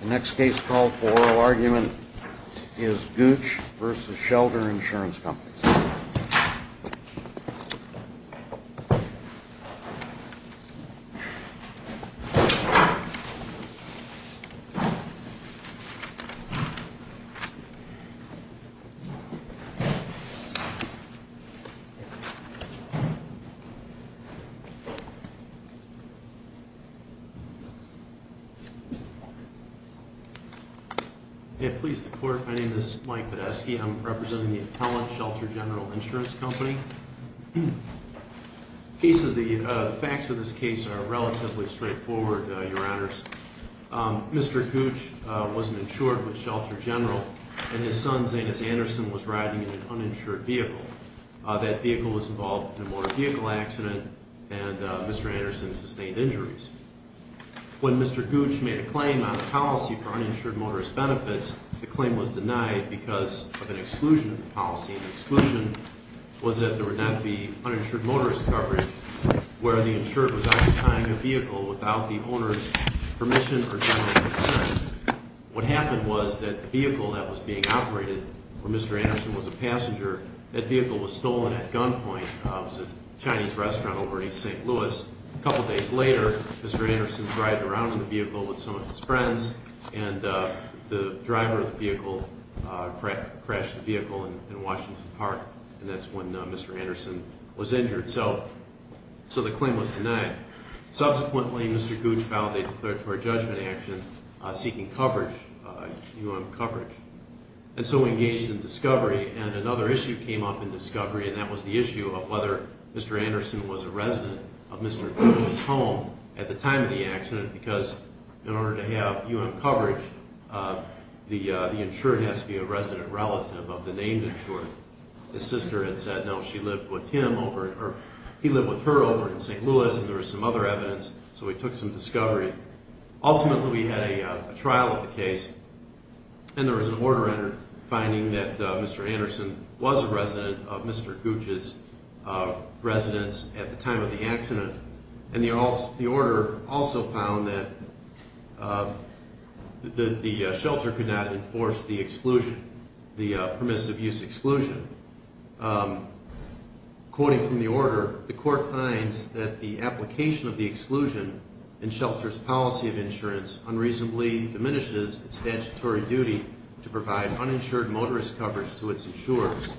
The next case called for oral argument is Cooch v. Shelter Insurance Companies. The facts of this case are relatively straightforward, your honors. Mr. Cooch wasn't insured with Shelter General and his son, Zanus Anderson, was riding in an uninsured vehicle. That vehicle was involved in a motor vehicle accident and Mr. Anderson sustained injuries. When Mr. Cooch made a claim on the policy for uninsured motorist benefits, the claim was denied because of an exclusion of the policy. The exclusion was that there would not be uninsured motorist coverage where the insured was occupying a vehicle without the owner's permission or general consent. What happened was that the vehicle that was being operated, where Mr. Anderson had stolen at gunpoint, was a Chinese restaurant over in East St. Louis. A couple days later, Mr. Anderson was riding around in the vehicle with some of his friends and the driver of the vehicle crashed the vehicle in Washington Park and that's when Mr. Anderson was injured. So the claim was denied. Subsequently, Mr. Cooch validated declaratory judgment action seeking coverage, U.M. coverage. And so we engaged in discovery and another issue came up in discovery and that was the issue of whether Mr. Anderson was a resident of Mr. Cooch's home at the time of the accident because in order to have U.M. coverage, the insured has to be a resident relative of the named insured. His sister had said no, she lived with him over in, or he lived with her over in St. Louis and there was some other evidence so we took some discovery. Ultimately, we had a trial of the case and there was an order entered finding that Mr. Anderson was a resident of Mr. Cooch's residence at the time of the accident and the order also found that the shelter could not enforce the exclusion, the permissive use exclusion. Quoting from the order, the court finds that the application of the exclusion in shelter's policy of insurance unreasonably diminishes its statutory duty to provide uninsured motorist coverage to its insurers.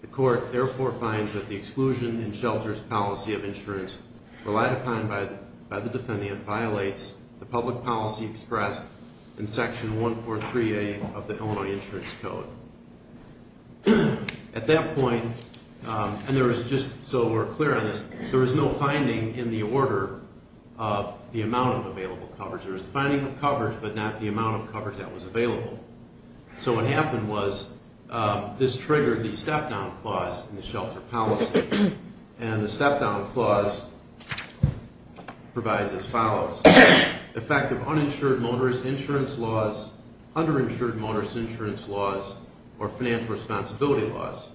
The court therefore finds that the exclusion in shelter's policy of insurance relied upon by the defendant violates the public policy expressed in section 143A of the Illinois Insurance Code. At that point, and there was just so we're clear on this, there was no finding in the order of the amount of available coverage. There was a finding of coverage but not the amount of coverage that was available. So what happened was this triggered the step down clause in the shelter policy and the step down clause provides as follows. The fact of uninsured motorist insurance laws, underinsured motorist insurance laws, or financial responsibility laws.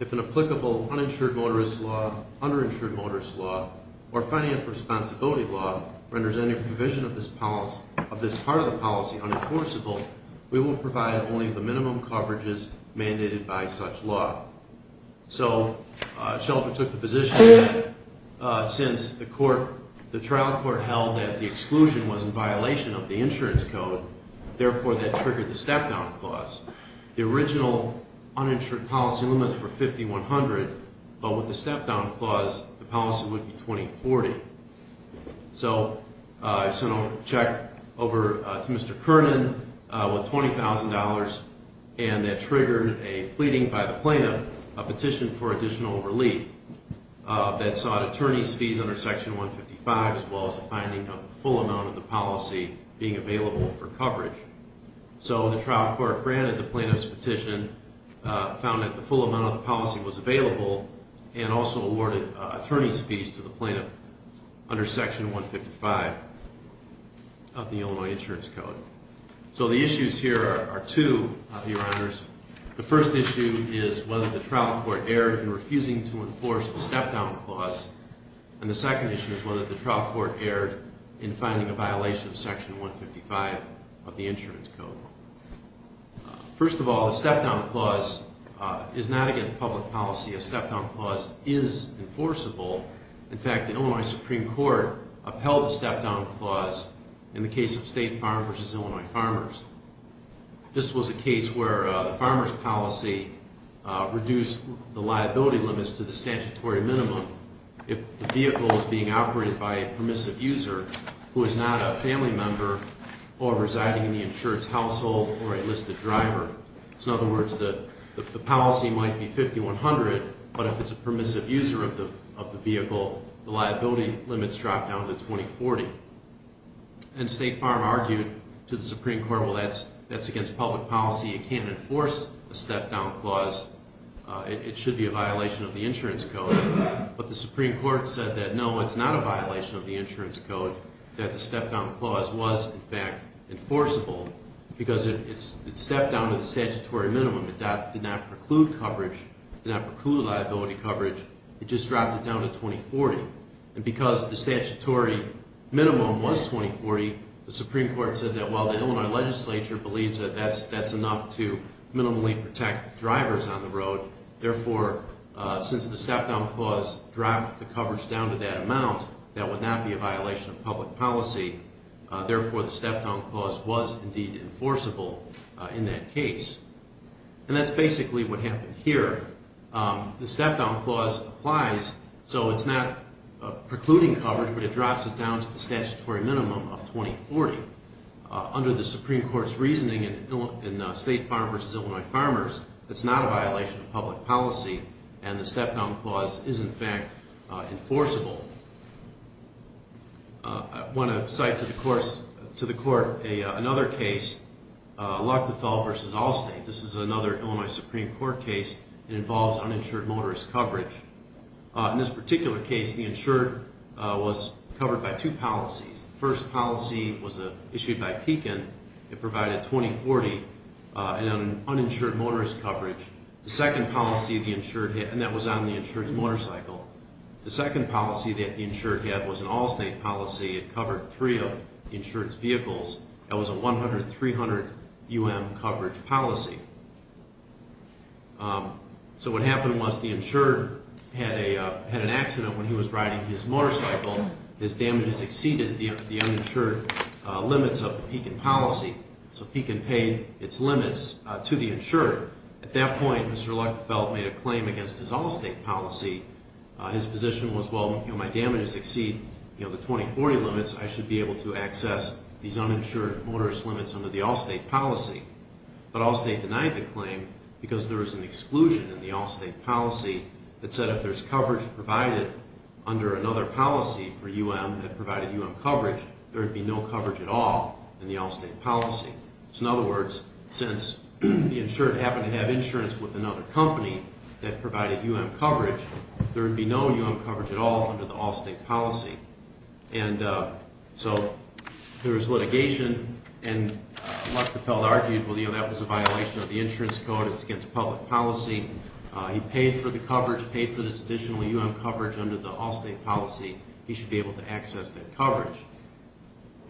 If an applicable uninsured motorist law, underinsured motorist law, or financial responsibility law renders any provision of this part of the policy unenforceable, we will provide only the minimum coverages mandated by such law. So, shelter took the position that since the trial court held that the exclusion was in violation of the insurance code, therefore that triggered the step down clause. The original uninsured policy limits were $5,100 but with the step down clause the policy would be $2,040. So I sent a check over to Mr. Kernan with $20,000 and that triggered a pleading by the plaintiff, a petition for additional relief that sought attorney's fees under section 155 as well as a finding of the full amount of the policy being available for coverage. So the trial court granted the plaintiff's petition, found that the full amount of the policy was available, and also awarded attorney's fees to the plaintiff under section 155 of the Illinois insurance code. So the issues here are two, your honors. The first issue is whether the trial court erred in refusing to enforce the step down clause and the second issue is whether the trial court erred in finding a violation of section 155 of the insurance code. First of all, the step down clause is not against public policy. A step down clause is enforceable. In fact, the Illinois Supreme Court upheld the step down clause in the case of State Farm versus Illinois Farmers. This was a case where the liability limits to the statutory minimum, if the vehicle is being operated by a permissive user who is not a family member or residing in the insurance household or a listed driver. So in other words, the policy might be 5100, but if it's a permissive user of the vehicle, the liability limits drop down to 2040. And State Farm argued to the Supreme Court, well that would be a violation of the insurance code, but the Supreme Court said that no, it's not a violation of the insurance code, that the step down clause was in fact enforceable because it stepped down to the statutory minimum. It did not preclude coverage, did not preclude liability coverage, it just dropped it down to 2040. And because the statutory minimum was 2040, the Supreme Court said that while the Illinois legislature believes that that's enough to minimally protect drivers on the road, therefore since the step down clause dropped the coverage down to that amount, that would not be a violation of public policy, therefore the step down clause was indeed enforceable in that case. And that's basically what happened here. The step down clause applies, so it's not precluding coverage, but it drops it down to the statutory minimum of 2040. Under the Supreme Court's reasoning in State Farm v. Illinois Farmers, it's not a violation of public policy, and the step down clause is in fact enforceable. I want to cite to the Court another case, Luchtfeld v. Allstate. This is another Illinois Supreme Court case. It involves uninsured motorist coverage. In this particular case, the insured was covered by two policies. The first policy was issued by Pekin. It provided 2040 in an uninsured motorist coverage. The second policy the insured had, and that was on the insured's motorcycle. The second policy that the insured had was an Allstate policy. It covered three of the insured's vehicles. That was a 100-300 UM coverage policy. So what happened was the insured had an accident when he was riding his motorcycle. His damages exceeded the uninsured limits of the Pekin policy, so Pekin paid its limits to the insured. At that point, Mr. Luchtfeld made a claim against his Allstate policy. His position was, well, my damages exceed the 2040 limits. I should be able to But Allstate denied the claim because there was an exclusion in the Allstate policy that said if there's coverage provided under another policy for UM that provided UM coverage, there would be no coverage at all in the Allstate policy. So in other words, since the insured happened to have insurance with another company that provided UM coverage, there would be no UM coverage at all under the Allstate policy. And so there was litigation, and Luchtfeld argued, well, you know, that was a violation of the insurance code. It's against public policy. He paid for the coverage, paid for this additional UM coverage under the Allstate policy. He should be able to access that coverage.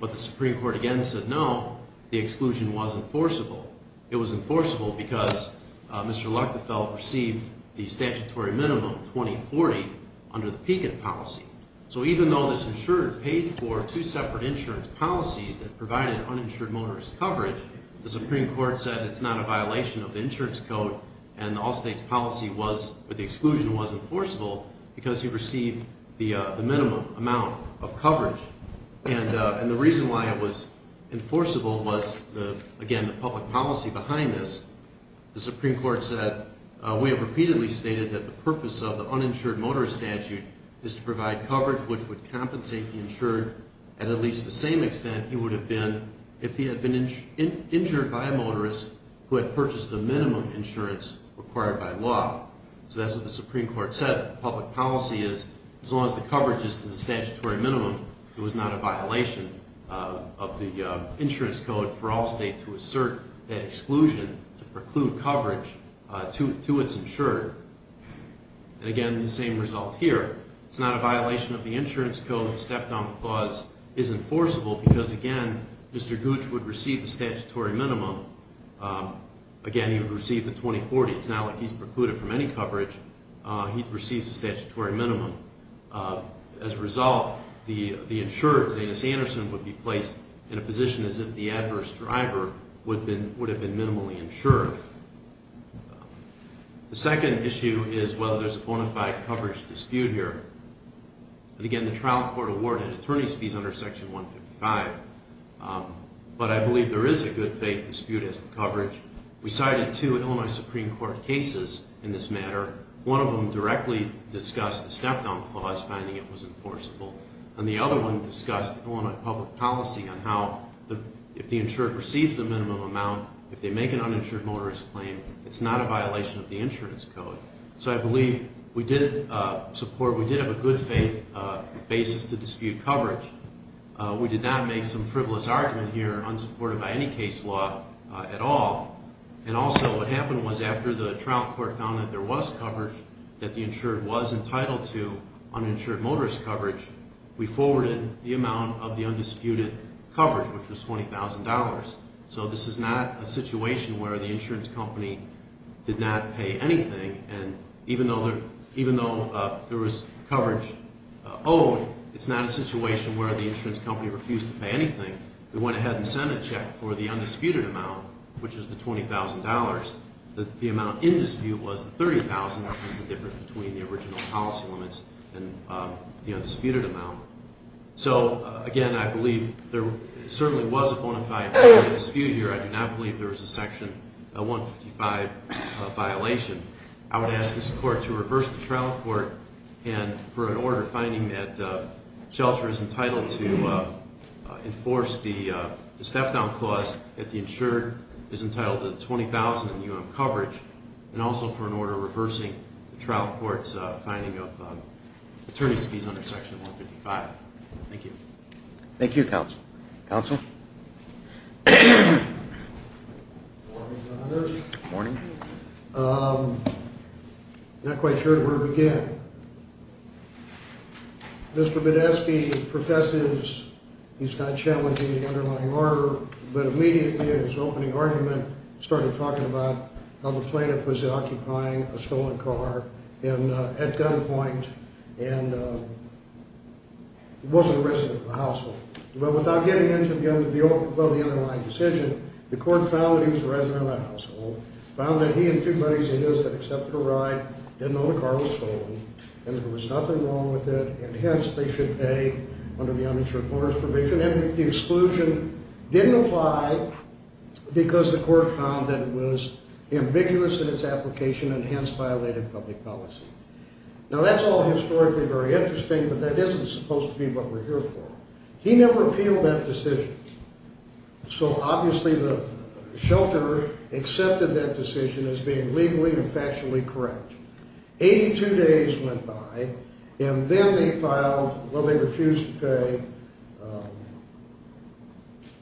But the Supreme Court again said, no, the exclusion was enforceable. It was enforceable because Mr. Luchtfeld received the statutory minimum, 2040, under the Pekin policy. So even though this insured paid for two separate insurance policies that provided uninsured motorist coverage, the Supreme Court said it's not a violation of the insurance code, and the Allstate policy was, the exclusion was enforceable because he received the minimum amount of coverage. And the reason why it was enforceable was, again, the public policy behind this. The Supreme Court said, we have repeatedly stated that the purpose of the uninsured motorist statute is to provide coverage which would compensate the insured at at least the same extent he would have been if he had been insured by a motorist who had purchased the minimum insurance required by law. So that's what the Supreme Court said. Public policy is, as long as the coverage is to the statutory minimum, it was not a violation of the insurance code for Allstate to assert that exclusion to preclude coverage to its insured. And again, the same result here. It's not a violation of the insurance code. The step down clause is enforceable because, again, Mr. Gooch would receive the statutory minimum. Again, he would receive the 2040. It's not like he's precluded from any coverage. He receives the statutory minimum. As a result, the insured, Zanus Anderson, would be placed in a position as if the adverse driver would have been minimally insured. The second issue is whether there's a bona fide coverage dispute here. And again, the trial court awarded attorneys fees under Section 155. But I believe there is a good faith dispute as to coverage. We cited two Illinois Supreme Court cases in this matter. One of them directly discussed the step down clause, finding it was enforceable. And the other one discussed Illinois public policy on how if the insured receives the minimum amount, if they make an uninsured motorist claim, it's not a violation of the court's support. We did have a good faith basis to dispute coverage. We did not make some frivolous argument here, unsupported by any case law at all. And also what happened was after the trial court found that there was coverage, that the insured was entitled to uninsured motorist coverage, we forwarded the amount of the undisputed coverage, which was $20,000. So this is not a situation where the insurance company did not pay anything. And even though there was coverage owed, it's not a situation where the insurance company refused to pay anything. We went ahead and sent a check for the undisputed amount, which is the $20,000. The amount in dispute was the $30,000, which is the difference between the original policy limits and the undisputed amount. So again, I believe there certainly was a bona fide dispute here. I do not believe there was a Section 155 violation. I would ask this court to reverse the trial court and for an order finding that the shelter is entitled to enforce the step-down clause that the insured is entitled to the $20,000 in coverage, and also for an order reversing the trial court's finding of attorney's under Section 155. Thank you. Thank you, Counsel. Counsel? Good morning, Your Honors. Good morning. I'm not quite sure where to begin. Mr. Badesky professes he's not challenging the underlying order, but immediately in his opening argument started talking about how the plaintiff was occupying a stolen car at a gunpoint and wasn't a resident of the household. But without getting into the underlying decision, the court found that he was a resident of the household, found that he and two buddies of his had accepted a ride, didn't know the car was stolen, and that there was nothing wrong with it, and hence they should pay under the uninsured owner's provision. And that the exclusion didn't apply because the court found that it was ambiguous in its application and hence violated public policy. Now, that's all historically very interesting, but that isn't supposed to be what we're here for. He never appealed that decision, so obviously the shelter accepted that decision as being legally and factually correct. Eighty-two days went by, and then they filed, well, they refused to pay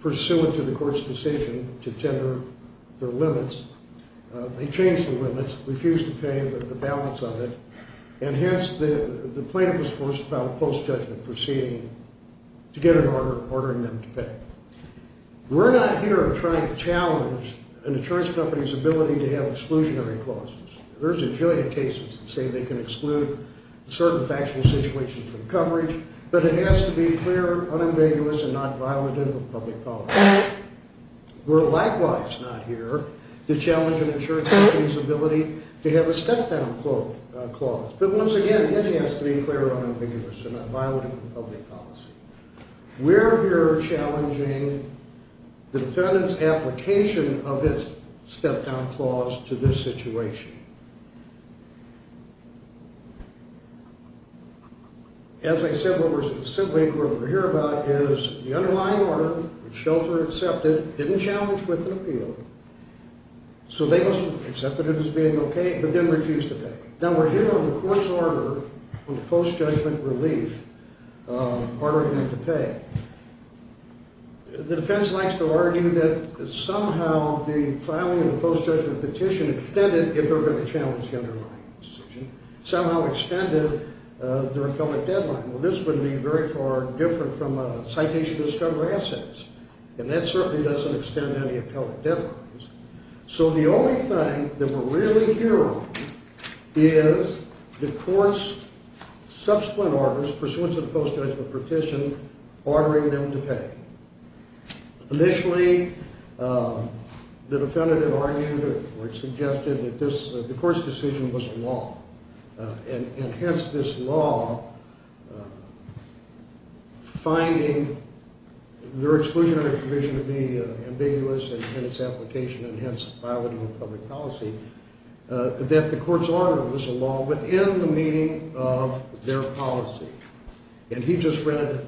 pursuant to the court's decision to tender their limits. They changed the limits. They refused to pay the balance of it, and hence the plaintiff was forced to file a post-judgment proceeding to get an order ordering them to pay. We're not here trying to challenge an insurance company's ability to have exclusionary clauses. There's a jillion cases that say they can exclude certain factual situations from coverage, but it has to be clear, unambiguous, and not violative of public policy. We're likewise not here to challenge an insurance company's ability to have a step-down clause, but once again, it has to be clear, unambiguous, and not violative of public policy. We're here challenging the defendant's application of its step-down clause to this situation. As I said, what we're specifically here about is the underlying order, which shelter accepted, didn't challenge with an appeal, so they must have accepted it as being okay, but then refused to pay. Now, we're here on the court's order on the post-judgment relief ordering them to pay. The defense likes to argue that somehow the filing of the post-judgment petition extended if they're going to challenge the underlying decision, somehow extended their appellate deadline. Well, this would be very far different from a citation to discover assets, and that certainly doesn't extend any appellate deadlines. So the only thing that we're really here on is the court's subsequent orders, pursuant to the post-judgment petition, ordering them to pay. Initially, the defendant argued, or suggested, that the court's decision was a law, and hence this law finding their exclusionary provision to be ambiguous in its application, and hence violative of public policy, that the court's order was a law within the meaning of their policy. And he just read,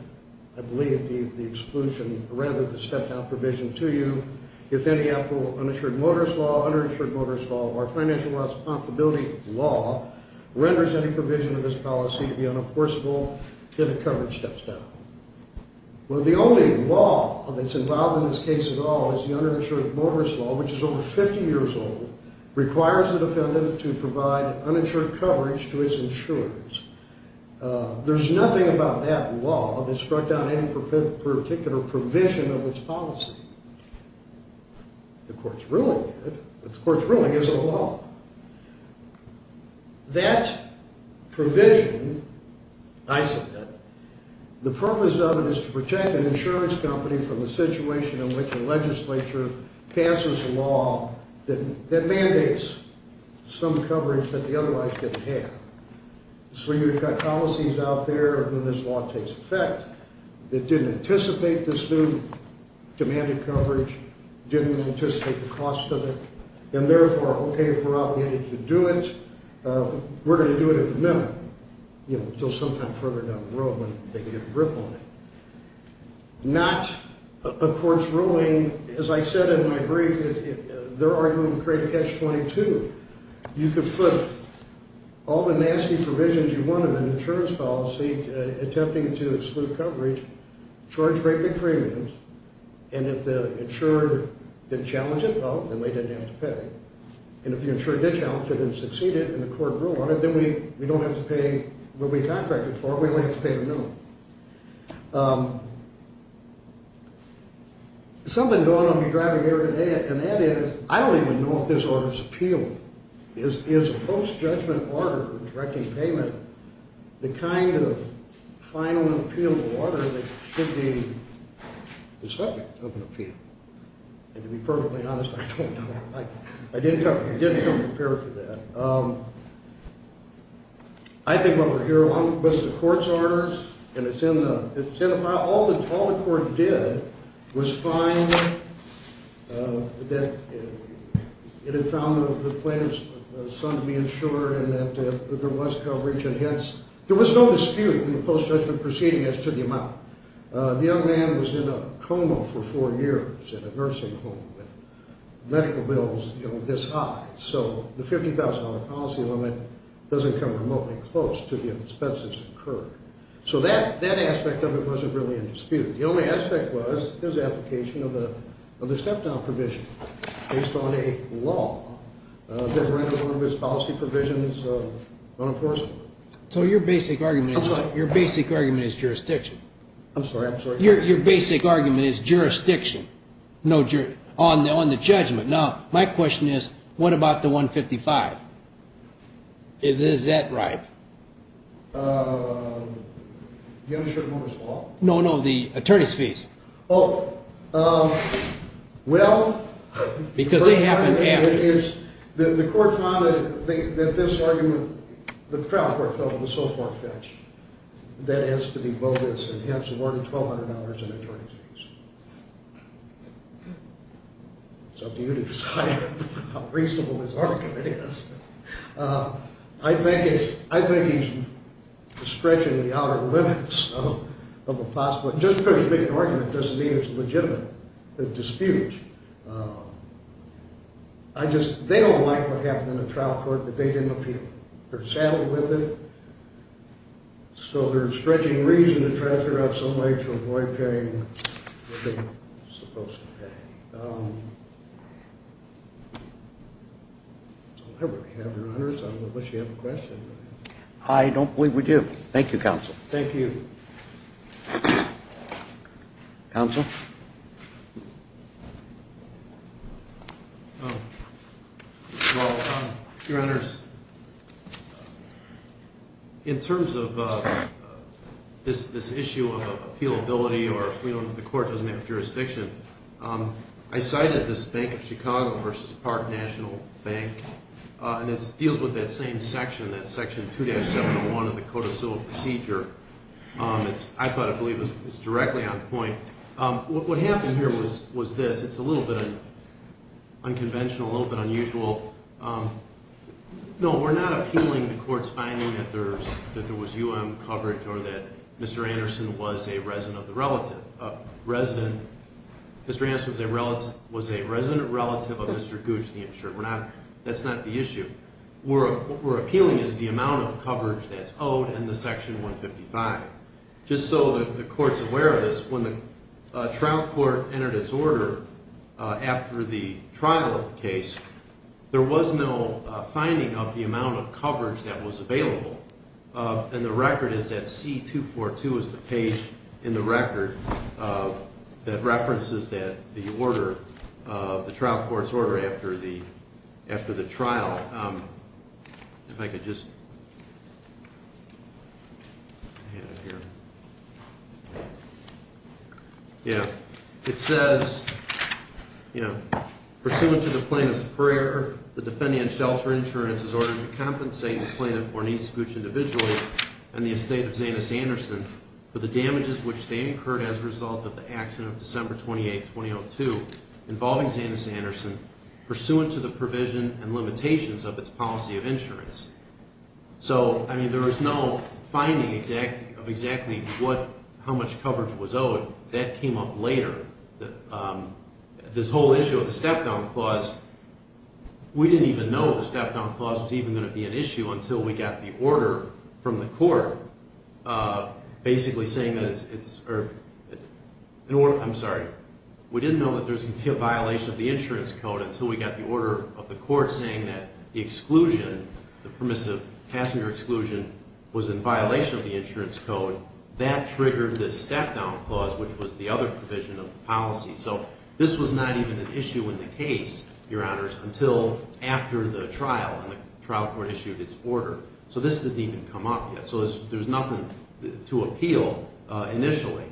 I believe, the exclusion, or rather the step-down provision to you, if any appellate uninsured motorist law, uninsured motorist law, or financial responsibility law, renders any provision of this policy to be unenforceable, then the coverage steps down. Well, the only law that's involved in this case at all is the uninsured motorist law, which is over 50 years old, requires the defendant to provide uninsured coverage to his insurance. There's nothing about that law that struck down any particular provision of its policy. The court's ruling did, but the court's ruling isn't a law. That provision, I said that, the purpose of it is to protect an insurance company from the situation in which a legislature passes a law that mandates some coverage that the otherwise doesn't have. So you've got policies out there when this law takes effect that didn't anticipate this new, demanded coverage, didn't anticipate the cost of it, and therefore, okay, if we're obligated to do it, we're going to do it at the minimum, you know, until some time further down the road when they can get a grip on it. Not a court's ruling, as I said in my brief, if they're arguing credit catch 22, you could put all the nasty provisions you wanted in an insurance policy attempting to exclude coverage, charge great big premiums, and if the insurer didn't challenge it, oh, then they didn't have to pay. And if the insurer did challenge it and succeed it and the court ruled on it, then we don't have to pay what we contracted for, we only have to pay the minimum. There's something going on with me driving here today, and that is I don't even know if this order is appealable. Is a post-judgment order directing payment the kind of final and appealable order that should be the subject of an appeal? And to be perfectly honest, I don't know. I didn't come prepared for that. I think what we're hearing along with the court's orders and it's in the file, all the court did was find that it had found the plaintiff's son to be insured and that there was coverage and hence there was no dispute in the post-judgment proceeding as to the amount. The young man was in a coma for four years in a nursing home with medical bills, you know, this high. So the $50,000 policy limit doesn't come remotely close to the expenses incurred. So that aspect of it wasn't really in dispute. The only aspect was his application of the step-down provision based on a law that rendered one of his policy provisions unenforceable. So your basic argument is jurisdiction? I'm sorry? Your basic argument is jurisdiction on the judgment. Now, my question is, what about the $155,000? Is that right? Do you have insurance over his law? No, no, the attorney's fees. Oh, well, the court found that this argument, the trial court felt it was so far-fetched that it has to be bogus and hence awarded $1,200 in attorney's fees. It's up to you to decide how reasonable this argument is. I think he's stretching the outer limits of a possible, just because it's a big argument doesn't mean it's legitimate to dispute. I just, they don't like what happened in the trial court that they didn't appeal. They're saddled with it. So there's stretching reason to try to figure out some way to avoid paying what they're supposed to pay. I don't really have your honors. I wish you had a question. I don't believe we do. Thank you, counsel. Thank you. Counsel? Well, your honors, in terms of this issue of appealability or the court doesn't have jurisdiction, I cited this Bank of Chicago versus Park National Bank and it deals with that same section, that section 2-701 of the Code of Civil Procedure. I thought it was directly on point. What happened here was this. It's a little bit unconventional, a little bit unusual. No, we're not appealing the court's finding that there was U.M. coverage or that Mr. Anderson was a resident of the relative. Mr. Anderson was a resident relative of Mr. Gooch, the insurer. That's not the issue. What we're appealing is the amount of coverage that's owed in the section 155. Just so the court's aware of this, when the trial court entered its order after the trial of the case, there was no finding of the amount of coverage that was available. And the record is at C-242 is the page in the record that references that the order, the trial court's order after the trial. If I could just... Yeah, it says, you know, pursuant to the plaintiff's prayer, the defendant's shelter insurance is ordered to compensate the plaintiff or an East Gooch individual and the estate of Zanis Anderson for the damages which they incurred as a result of the accident of December 28, 2002 involving Zanis Anderson, pursuant to the provision and limitations of its policy of insurance. So, I mean, there was no finding of exactly how much coverage was owed. That came up later. This whole issue of the step-down clause, we didn't even know the step-down clause was even going to be an issue until we got the order from the court basically saying that it's... I'm sorry. We didn't know that there was going to be a violation of the insurance code until we got the order of the court saying that the exclusion, the permissive passenger exclusion was in violation of the insurance code. That triggered this step-down clause which was the other provision of the policy. So this was not even an issue in the case, Your Honors, until after the trial and the trial court issued its order. So this didn't even come up yet. So there's nothing to appeal initially.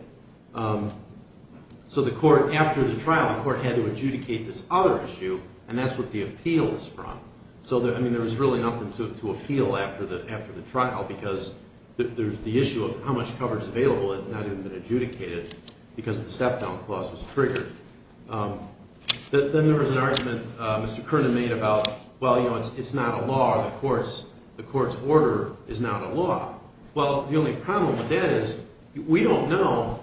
So the court, after the trial, the court had to adjudicate this other issue and that's what the appeal is from. So, I mean, there was really nothing to appeal after the trial because the issue of how much coverage was available had not even been adjudicated because the step-down clause was triggered. Then there was an argument Mr. Kernan made about well, you know, it's not a law or the court's order is not a law. Well, the only problem with that is we don't know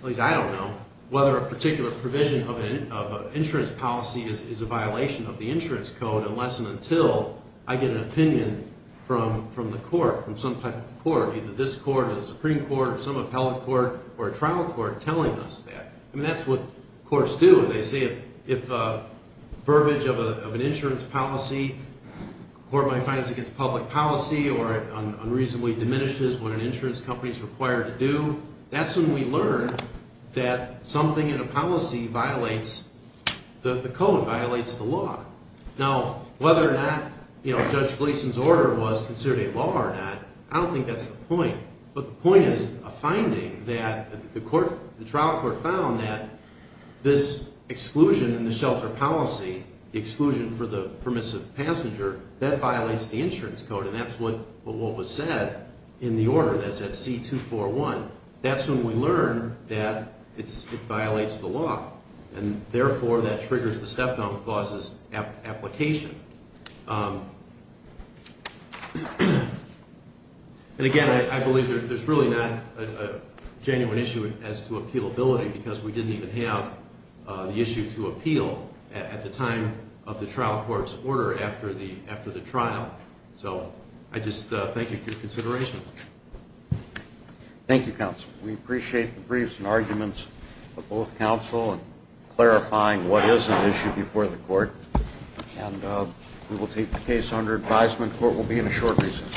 at least I don't know whether a particular provision of an insurance policy is a violation of the insurance code unless and until I get an opinion from the court, from some type of court, either this court or the Supreme Court or some appellate court or a trial court telling us that. I mean, that's what courts do when they say if a verbiage of an insurance policy or my fines against public policy or it unreasonably diminishes what an insurance company is required to do that's when we learn that something in a policy violates the code, violates the law. Now, whether or not Judge Gleason's order was considered a law or not, I don't think that's the point. But the point is a finding that the trial court found that this exclusion in the shelter policy the exclusion for the permissive passenger, that violates the insurance code and that's what was said in the order that's at C241. That's when we learn that it violates the law and therefore that triggers the step down that causes application. And again, I believe there's really not a genuine issue as to appealability because we didn't even have the issue to appeal at the time of the trial court's order after the trial. So, I just thank you for your consideration. Thank you, counsel. We appreciate the briefs and arguments of both counsel and clarifying what is an issue before the court and we will take the case under advisement. Court will be in a short recess.